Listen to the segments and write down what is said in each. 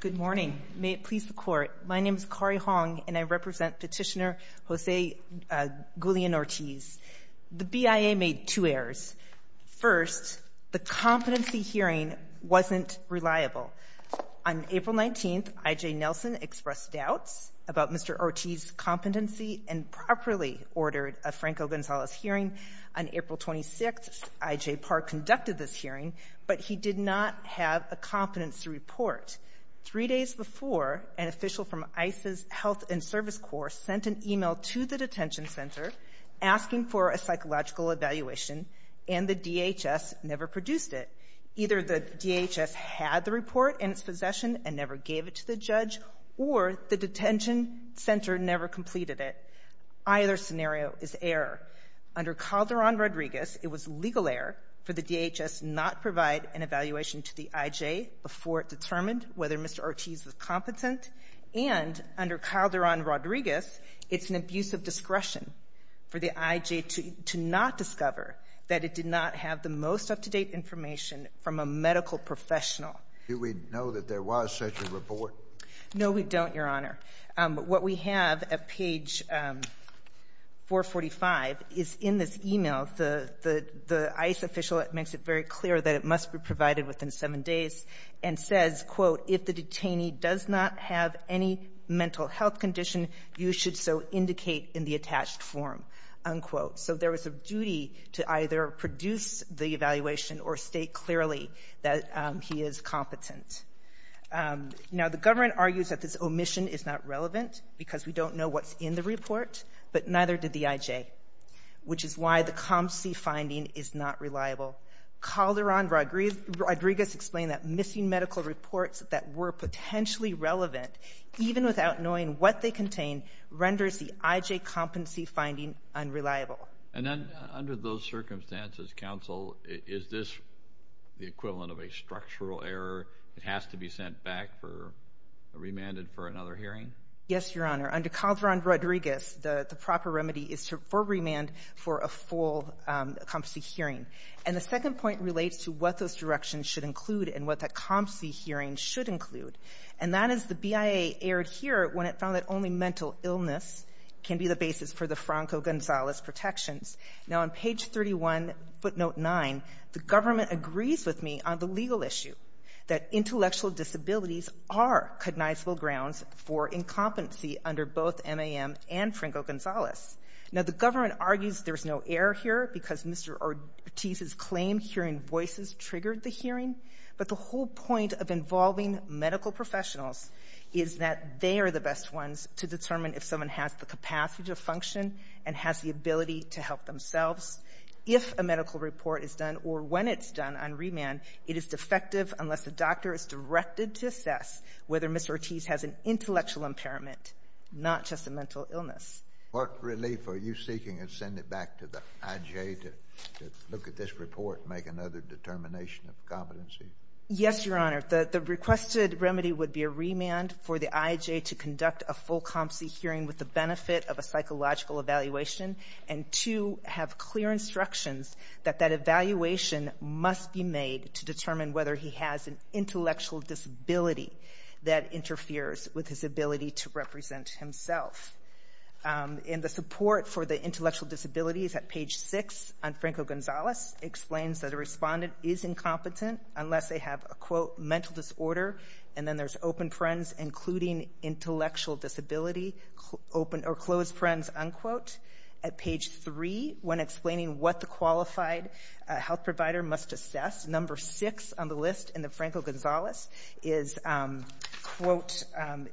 Good morning. May it please the Court, my name is Kari Hong and I represent Petitioner Jose Guillen-Ortiz. The BIA made two errors. First, the competency hearing wasn't reliable. On April 19th, I.J. Nelson expressed doubts about Mr. Ortiz's competency and properly ordered a Franco-Gonzalez hearing. On April 26th, I.J. Parr conducted this hearing, but he did not have a competency report. Three days before, an official from ICE's Health and Service Corps sent an e-mail to the detention center asking for a psychological evaluation, and the DHS never produced it. Either the DHS had the report in its possession and never gave it to the judge, or the detention center never completed it. Either scenario is error. Under Calderon-Rodriguez, it was legal error for the DHS not provide an evaluation to the I.J. before it determined whether Mr. Ortiz was competent, and under Calderon-Rodriguez, it's an abuse of discretion for the I.J. to not discover that it did not have the most No, we don't, Your Honor. What we have at page 445 is in this e-mail, the ICE official makes it very clear that it must be provided within 7 days and says, quote, if the detainee does not have any mental health condition, you should so indicate in the attached form, unquote. So there was a duty to either produce the evaluation or state clearly that he is competent. Now, the government argues that this omission is not relevant because we don't know what's in the report, but neither did the I.J., which is why the competency finding is not reliable. Calderon-Rodriguez explained that missing medical reports that were potentially relevant, even without knowing what they contain, renders the I.J. competency finding unreliable. And then, under those circumstances, counsel, is this the equivalent of a structural error? It has to be sent back for, remanded for another hearing? Yes, Your Honor. Under Calderon-Rodriguez, the proper remedy is for remand for a full competency hearing. And the second point relates to what those directions should include and what that competency hearing should include. And that is the BIA erred here when it found that only mental illness can be the basis for the Franco-Gonzalez protections. Now, on page 31, footnote 9, the government agrees with me on the legal issue, that intellectual disabilities are cognizable grounds for incompetency under both MAM and Franco-Gonzalez. Now, the government argues there's no error here because Mr. Ortiz's claim hearing voices triggered the hearing, but the whole point of involving medical professionals is that they are the best ones to determine if someone has the capacity to function and has the ability to help themselves. If a medical report is done or when it's done on remand, it is defective unless the doctor is directed to assess whether Mr. Ortiz has an intellectual impairment, not just a mental illness. What relief are you seeking in sending it back to the IJ to look at this report and make another determination of competency? Yes, Your Honor. The requested remedy would be a remand for the IJ to conduct a full competency hearing with the benefit of a psychological evaluation and to have clear instructions that that evaluation must be made to determine whether he has an intellectual disability that interferes with his ability to represent himself. And the support for the intellectual disabilities at page 6 on Franco-Gonzalez explains that a respondent is incompetent unless they have a, quote, mental disorder. And then there's open parens including intellectual disability, open or closed parens, unquote. At page 3, when explaining what the qualified health provider must assess, number 6 on the list in the Franco-Gonzalez is, quote,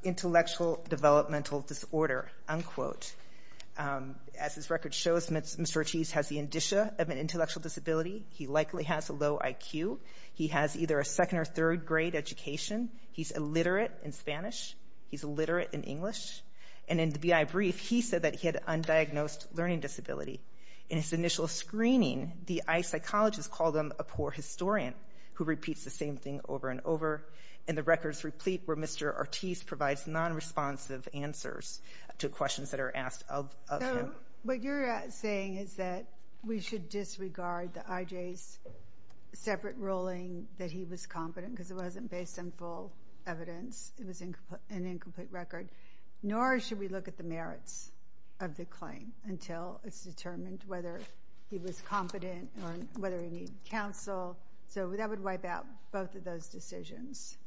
intellectual developmental disorder, unquote. As this record shows, Mr. Ortiz has the indicia of an intellectual disability. He likely has a low IQ. He has either a second or third grade education. He's illiterate in Spanish. He's illiterate in English. And in the BI brief, he said that he had undiagnosed learning disability. In his initial screening, the eye psychologist called him a poor historian who repeats the same thing over and over. And the records replete where Mr. Ortiz provides nonresponsive answers to questions that are asked of him. What you're saying is that we should disregard the IJ's separate ruling that he was competent because it wasn't based on full evidence. It was an incomplete record. Nor should we look at the merits of the claim until it's determined whether he was competent or whether he needed counsel. So that would wipe out both of those decisions.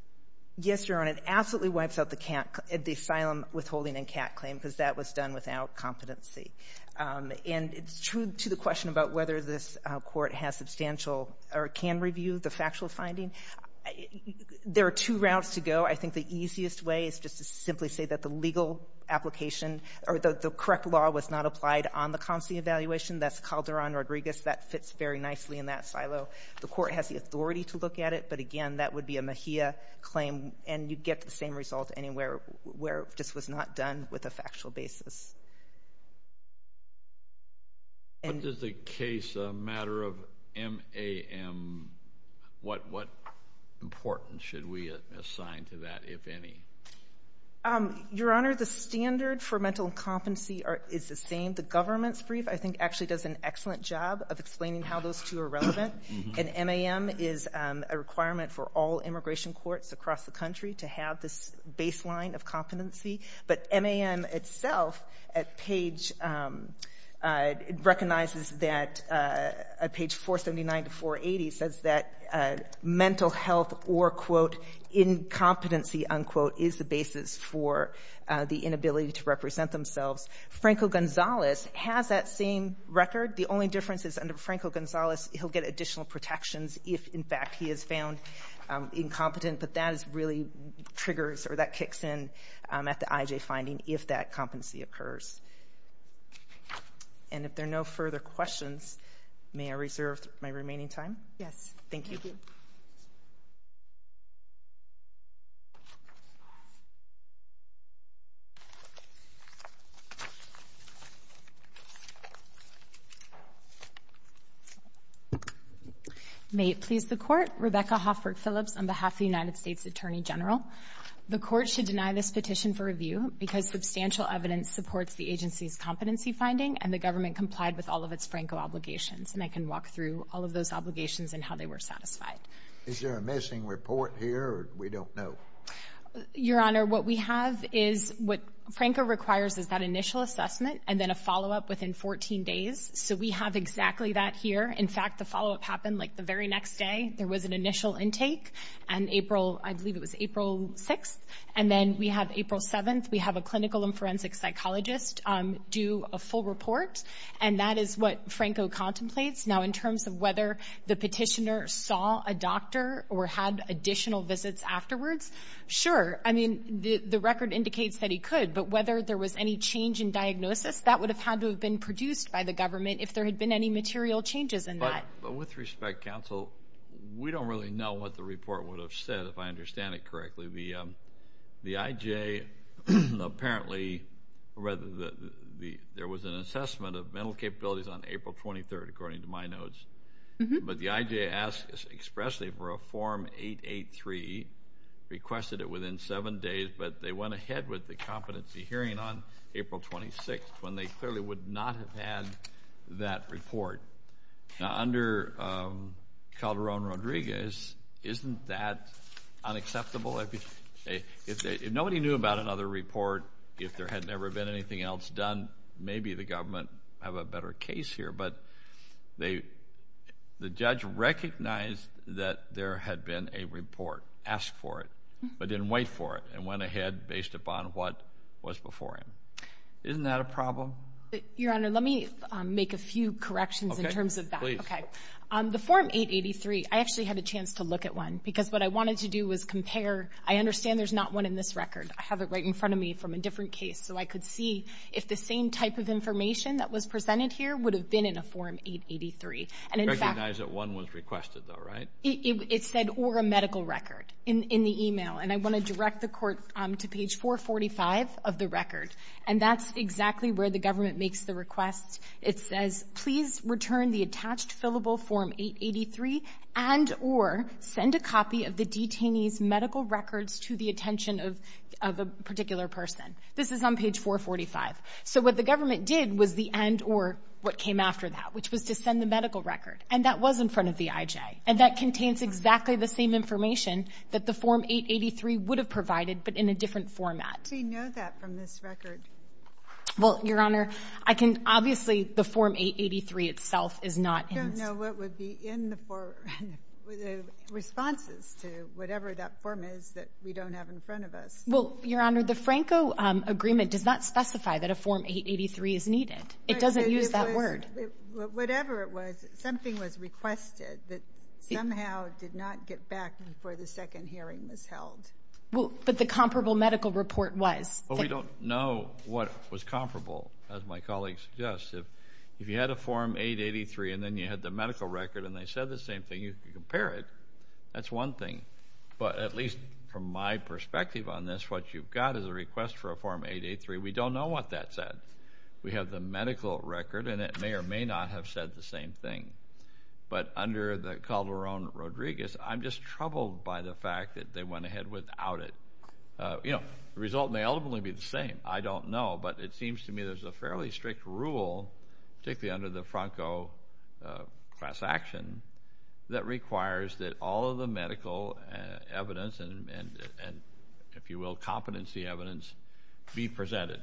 Yes, Your Honor. It absolutely wipes out the asylum withholding and CAT claim because that was done without competency. And it's true to the question about whether this court has substantial or can review the factual finding. There are two routes to go. I think the easiest way is just to simply say that the legal application or the correct law was not applied on the constancy evaluation. That's Calderon-Rodriguez. That fits very nicely in that silo. The court has the authority to look at it. But again, that would be a Mejia claim. And you'd get the same result anywhere where it just was not done with a factual basis. What does the case matter of MAM, what importance should we assign to that, if any? Your Honor, the standard for mental incompetency is the same. The government's brief, I think, actually does an excellent job of explaining how those two are relevant. And MAM is a requirement for all immigration courts across the country to have this baseline of competency. But MAM itself recognizes that page 479 to 480 says that mental health or, quote, incompetency, unquote, is the basis for the inability to represent themselves. Franco-Gonzalez has that same record. The only difference is under Franco-Gonzalez he'll get additional protections if, in fact, he is found incompetent. But that is really triggers or that kicks in at the IJ finding if that competency occurs. And if there are no further questions, may I reserve my remaining time? Yes. Thank you. Thank you. May it please the Court. Rebecca Hofford Phillips on behalf of the United States Attorney General. The Court should deny this petition for review because substantial evidence supports the agency's competency finding and the government complied with all of its Franco obligations. And I can walk through all of those obligations and how they were satisfied. Is there a missing report here or we don't know? Your Honor, what we have is what Franco requires is that initial assessment and then a follow-up within 14 days. So we have exactly that here. In fact, the follow-up happened like the very next day. There was an initial intake and April, I believe it was April 6th. And then we have April 7th. We have a clinical and forensic psychologist do a full report. And that is what Franco contemplates. Now, in terms of whether the petitioner saw a doctor or had additional visits afterwards, sure. I mean, the record indicates that he could. But whether there was any change in diagnosis, that would have had to have been produced by the government if there had been any material changes in that. With respect, counsel, we don't really know what the report would have said if I understand it correctly. The I.J. apparently read that there was an assessment of mental capabilities on April 23rd, according to my notes. But the I.J. asked expressly for a Form 883, requested it within 7 days, but they went ahead with the competency hearing on April 26th when they clearly would not have had that report. Now, under Calderon-Rodriguez, isn't that unacceptable? If nobody knew about another report, if there had never been anything else done, maybe the government have a better case here. But the judge recognized that there had been a report, asked for it, but didn't wait for it, and went ahead based upon what was before him. Isn't that a problem? Your Honor, let me make a few corrections in terms of that. Okay. Please. Okay. The Form 883, I actually had a chance to look at one because what I wanted to do was compare. I understand there's not one in this record. I have it right in front of me from a different case, so I could see if the same type of information that was presented here would have been in a Form 883. Recognize that one was requested, though, right? It said, or a medical record in the email, and I want to direct the Court to page 445 of the record, and that's exactly where the government makes the request. It says, please return the attached fillable Form 883 and or send a copy of the detainee's medical records to the attention of a particular person. This is on page 445. So what the government did was the and or what came after that, which was to send the medical record, and that was in front of the IJ, and that contains exactly the same information that the Form 883 would have provided, but in a different format. How do you know that from this record? Well, Your Honor, I can, obviously, the Form 883 itself is not in. I don't know what would be in the responses to whatever that form is that we don't have in front of us. Well, Your Honor, the Franco Agreement does not specify that a Form 883 is needed. It doesn't use that word. But whatever it was, something was requested that somehow did not get back before the second hearing was held. Well, but the comparable medical report was. Well, we don't know what was comparable, as my colleague suggests. If you had a Form 883 and then you had the medical record and they said the same thing, you could compare it. That's one thing. But at least from my perspective on this, what you've got is a request for a Form 883. We don't know what that said. We have the medical record, and it may or may not have said the same thing. But under the Calderon-Rodriguez, I'm just troubled by the fact that they went ahead without it. You know, the result may ultimately be the same. I don't know. But it seems to me there's a fairly strict rule, particularly under the Franco class action, that requires that all of the medical evidence and, if you will, competency evidence be presented.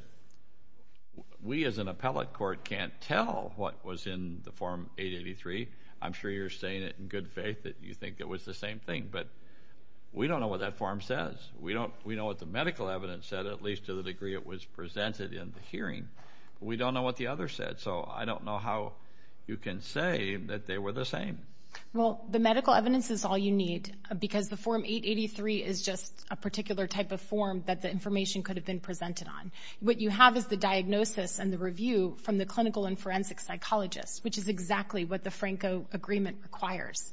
But we, as an appellate court, can't tell what was in the Form 883. I'm sure you're saying it in good faith that you think it was the same thing. But we don't know what that form says. We know what the medical evidence said, at least to the degree it was presented in the hearing. We don't know what the other said. So I don't know how you can say that they were the same. Well, the medical evidence is all you need, because the Form 883 is just a particular type of form that the information could have been presented on. What you have is the diagnosis and the review from the clinical and forensic psychologists, which is exactly what the Franco agreement requires.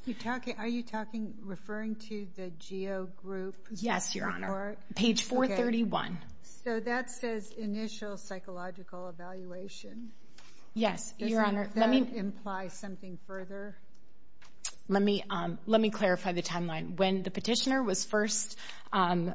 Are you talking, referring to the GEO group report? Yes, Your Honor. Page 431. So that says initial psychological evaluation. Yes, Your Honor. Doesn't that imply something further? Let me clarify the timeline. When the petitioner was first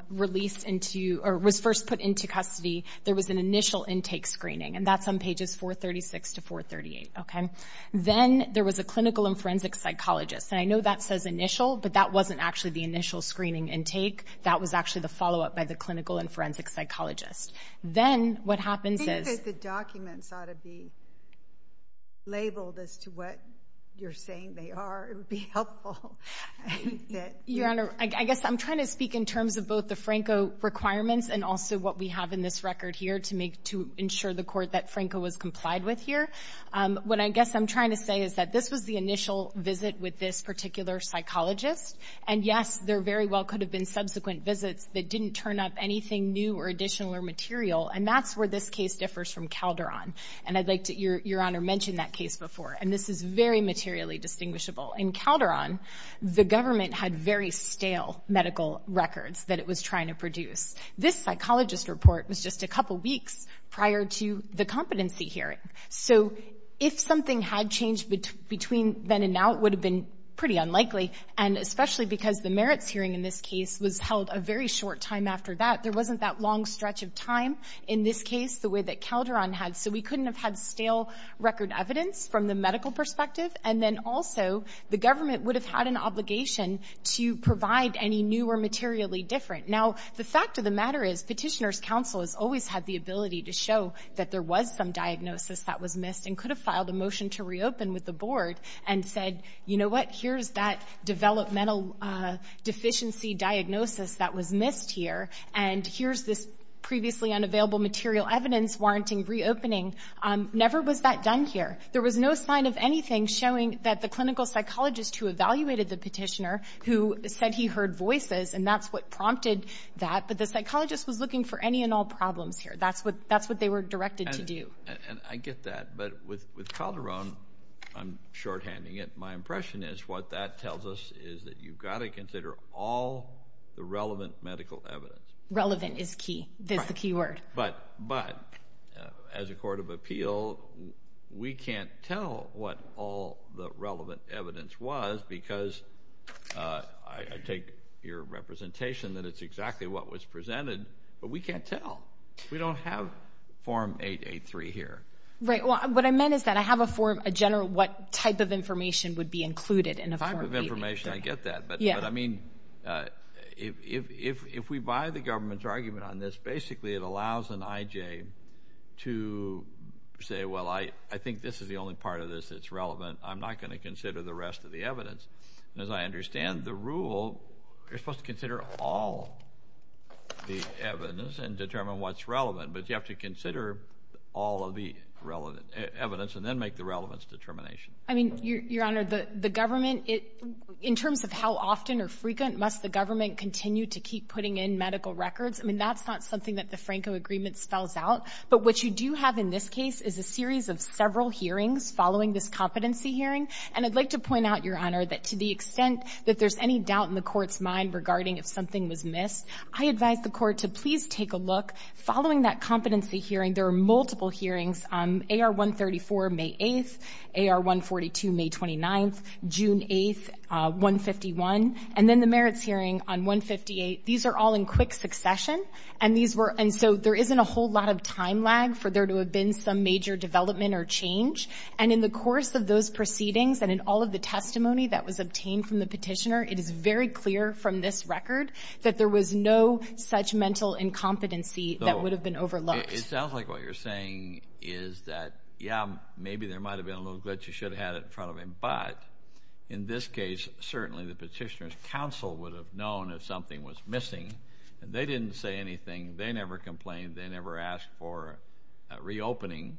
released into, or was first put into custody, there was an initial intake screening. And that's on pages 436 to 438. Then there was a clinical and forensic psychologist. And I know that says initial, but that wasn't actually the initial screening intake. That was actually the follow-up by the clinical and forensic psychologist. Then what happens is... Your Honor, I guess I'm trying to speak in terms of both the Franco requirements and also what we have in this record here to make, to ensure the court that Franco was complied with here. What I guess I'm trying to say is that this was the initial visit with this particular psychologist. And yes, there very well could have been subsequent visits that didn't turn up anything new or additional or material. And that's where this case differs from Calderon. And I'd like to, Your Honor, mention that case before. And this is very materially distinguishable. In Calderon, the government had very stale medical records that it was trying to produce. This psychologist report was just a couple weeks prior to the competency hearing. So if something had changed between then and now, it would have been pretty unlikely. And especially because the merits hearing in this case was held a very short time after that. There wasn't that long stretch of time in this case the way that Calderon had. So we couldn't have had stale record evidence from the medical perspective. And then also, the government would have had an obligation to provide any new or materially different. Now, the fact of the matter is, Petitioner's Counsel has always had the ability to show that there was some diagnosis that was missed and could have filed a motion to reopen with the board and said, you know what, here's that developmental deficiency diagnosis that was missed here. And here's this previously unavailable material evidence warranting reopening. Never was that done here. There was no sign of anything showing that the clinical psychologist who evaluated the petitioner, who said he heard voices, and that's what prompted that. But the psychologist was looking for any and all problems here. That's what they were directed to do. And I get that. But with Calderon, I'm shorthanding it, my impression is what that tells us is that you've got to consider all the relevant medical evidence. Relevant is key. That's the key word. But as a court of appeal, we can't tell what all the relevant evidence was because I take your representation that it's exactly what was presented, but we can't tell. We don't have Form 883 here. Right. Well, what I meant is that I have a general what type of information would be included in a form. Type of information, I get that. But I mean, if we buy the government's argument on this, basically it allows an IJ to say, well, I think this is the only part of this that's relevant. I'm not going to consider the rest of the evidence. And as I understand the rule, you're supposed to consider all the evidence and determine what's relevant, but you have to consider all of the relevant evidence and then make the relevance determination. I mean, Your Honor, the government, in terms of how often or frequent must the government continue to keep putting in medical records, I mean, that's not something that the Franco agreement spells out. But what you do have in this case is a series of several hearings following this competency hearing. And I'd like to point out, Your Honor, that to the extent that there's any doubt in the court's mind regarding if something was missed, I advise the court to please take a look. Following that competency hearing, there are multiple hearings on AR 134, May 8th, AR 142, May 29th, June 8th, 151, and then the merits hearing on 158. These are all in quick succession, and so there isn't a whole lot of time lag for there to have been some major development or change. And in the course of those proceedings and in all of the testimony that was obtained from the petitioner, it is very clear from this record that there was no such mental incompetency that would have been overlooked. It sounds like what you're saying is that, yeah, maybe there might have been a little glitch. You should have had it in front of him. But in this case, certainly the petitioner's counsel would have known if something was missing. They didn't say anything. They never complained. They never asked for a reopening.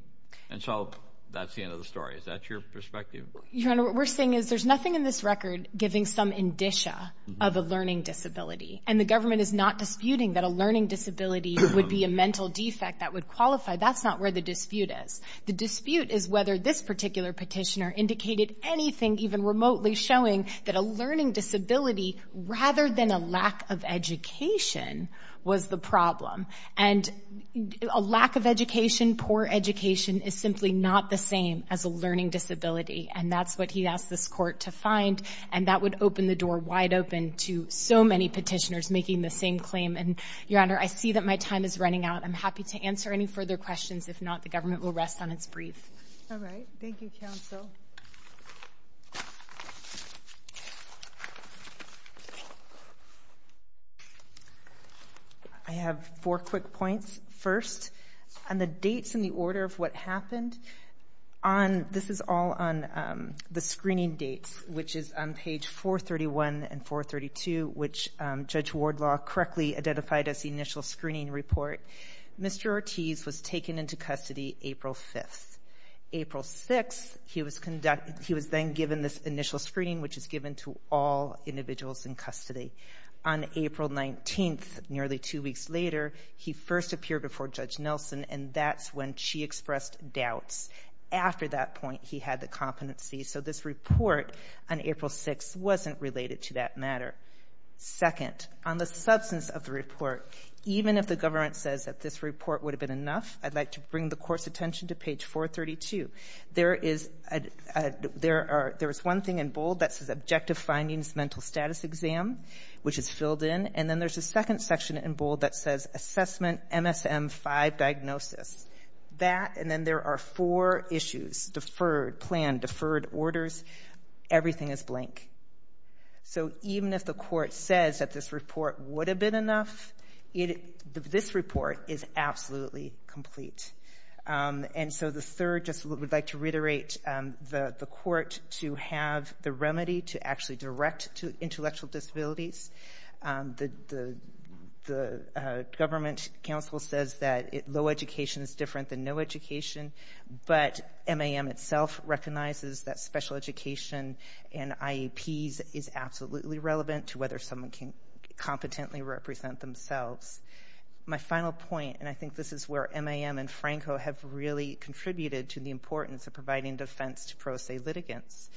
And so that's the end of the story. Is that your perspective? Your Honor, what we're saying is there's nothing in this record giving some indicia of a learning disability. And the government is not disputing that a learning disability would be a mental defect that would qualify. That's not where the dispute is. The dispute is whether this particular petitioner indicated anything, even remotely, showing that a learning disability, rather than a lack of education, was the problem. And a lack of education, poor education, is simply not the same as a learning disability. And that's what he asked this Court to find. And that would open the door wide open to so many petitioners making the same claim. And, Your Honor, I see that my time is running out. I'm happy to answer any further questions. If not, the government will rest on its brief. All right. Thank you, counsel. I have four quick points. First, on the dates and the order of what happened, this is all on the screening dates, which is on page 431 and 432, which Judge Wardlaw correctly identified as the initial screening report. Mr. Ortiz was taken into custody April 5th. April 6th, he was then given this initial screening, which is given to all individuals in custody. On April 19th, nearly two weeks later, he first appeared before Judge Nelson, and that's when she expressed doubts. After that point, he had the competency. So this report on April 6th wasn't related to that matter. Second, on the substance of the report, even if the government says that this report would have been enough, I'd like to bring the Court's attention to page 432. There is one thing in bold that says, Objective Findings Mental Status Exam, which is filled in. And then there's a second section in bold that says, Assessment MSM-5 Diagnosis. That, and then there are four issues, deferred, planned, deferred orders. Everything is blank. So even if the Court says that this report would have been enough, this report is absolutely complete. And so the third, just what we'd like to reiterate, the Court to have the remedy to actually direct to intellectual disabilities. The government counsel says that low education is different than no education, but MAM itself recognizes that special education and IEPs is absolutely relevant to whether someone can competently represent themselves. My final point, and I think this is where MAM and Franco have really contributed to the importance of providing defense to pro se litigants.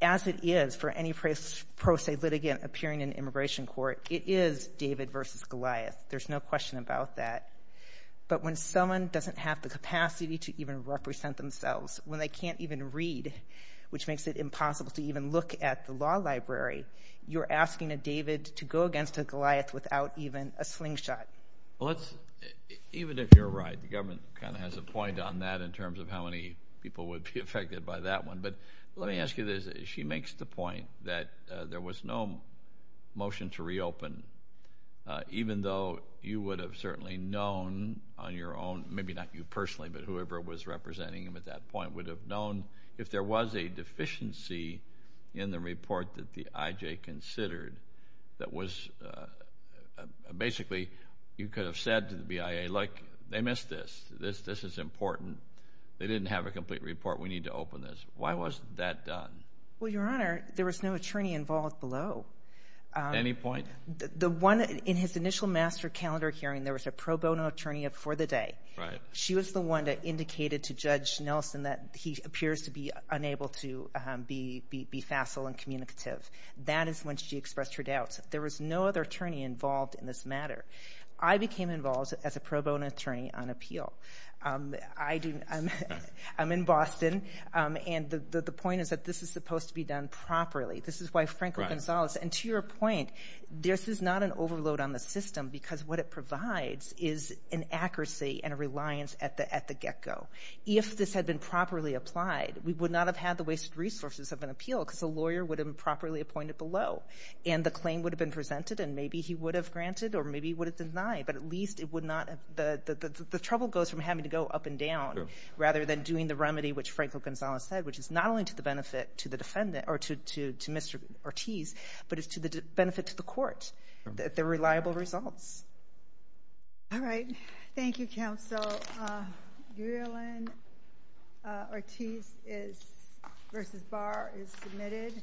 As it is for any pro se litigant appearing in immigration court, it is David versus Goliath. There's no question about that. But when someone doesn't have the capacity to even represent themselves, when they can't even read, which makes it impossible to even look at the law library, you're asking a David to go against a Goliath without even a slingshot. Even if you're right, the government kind of has a point on that in terms of how many people would be affected by that one. But let me ask you this. She makes the point that there was no motion to reopen, even though you would have certainly known on your own, maybe not you personally, but whoever was representing you at that point, would have known if there was a deficiency in the report that the IJ considered that was basically you could have said to the BIA, look, they missed this. This is important. They didn't have a complete report. We need to open this. Why wasn't that done? Well, Your Honor, there was no attorney involved below. At any point? The one in his initial master calendar hearing, there was a pro bono attorney before the day. Right. She was the one that indicated to Judge Nelson that he appears to be unable to be facile and communicative. That is when she expressed her doubts. There was no other attorney involved in this matter. I became involved as a pro bono attorney on appeal. I'm in Boston, and the point is that this is supposed to be done properly. This is why Franco Gonzalez, and to your point, this is not an overload on the system because what it provides is an accuracy and a reliance at the get-go. If this had been properly applied, we would not have had the wasted resources of an appeal because a lawyer would have been properly appointed below, and the claim would have been presented, and maybe he would have granted or maybe he would have denied, but at least the trouble goes from having to go up and down rather than doing the remedy, which Franco Gonzalez said, which is not only to the benefit to Mr. Ortiz, but it's to the benefit to the court that they're reliable results. All right. Thank you, counsel. Yulian Ortiz vs. Barr is submitted.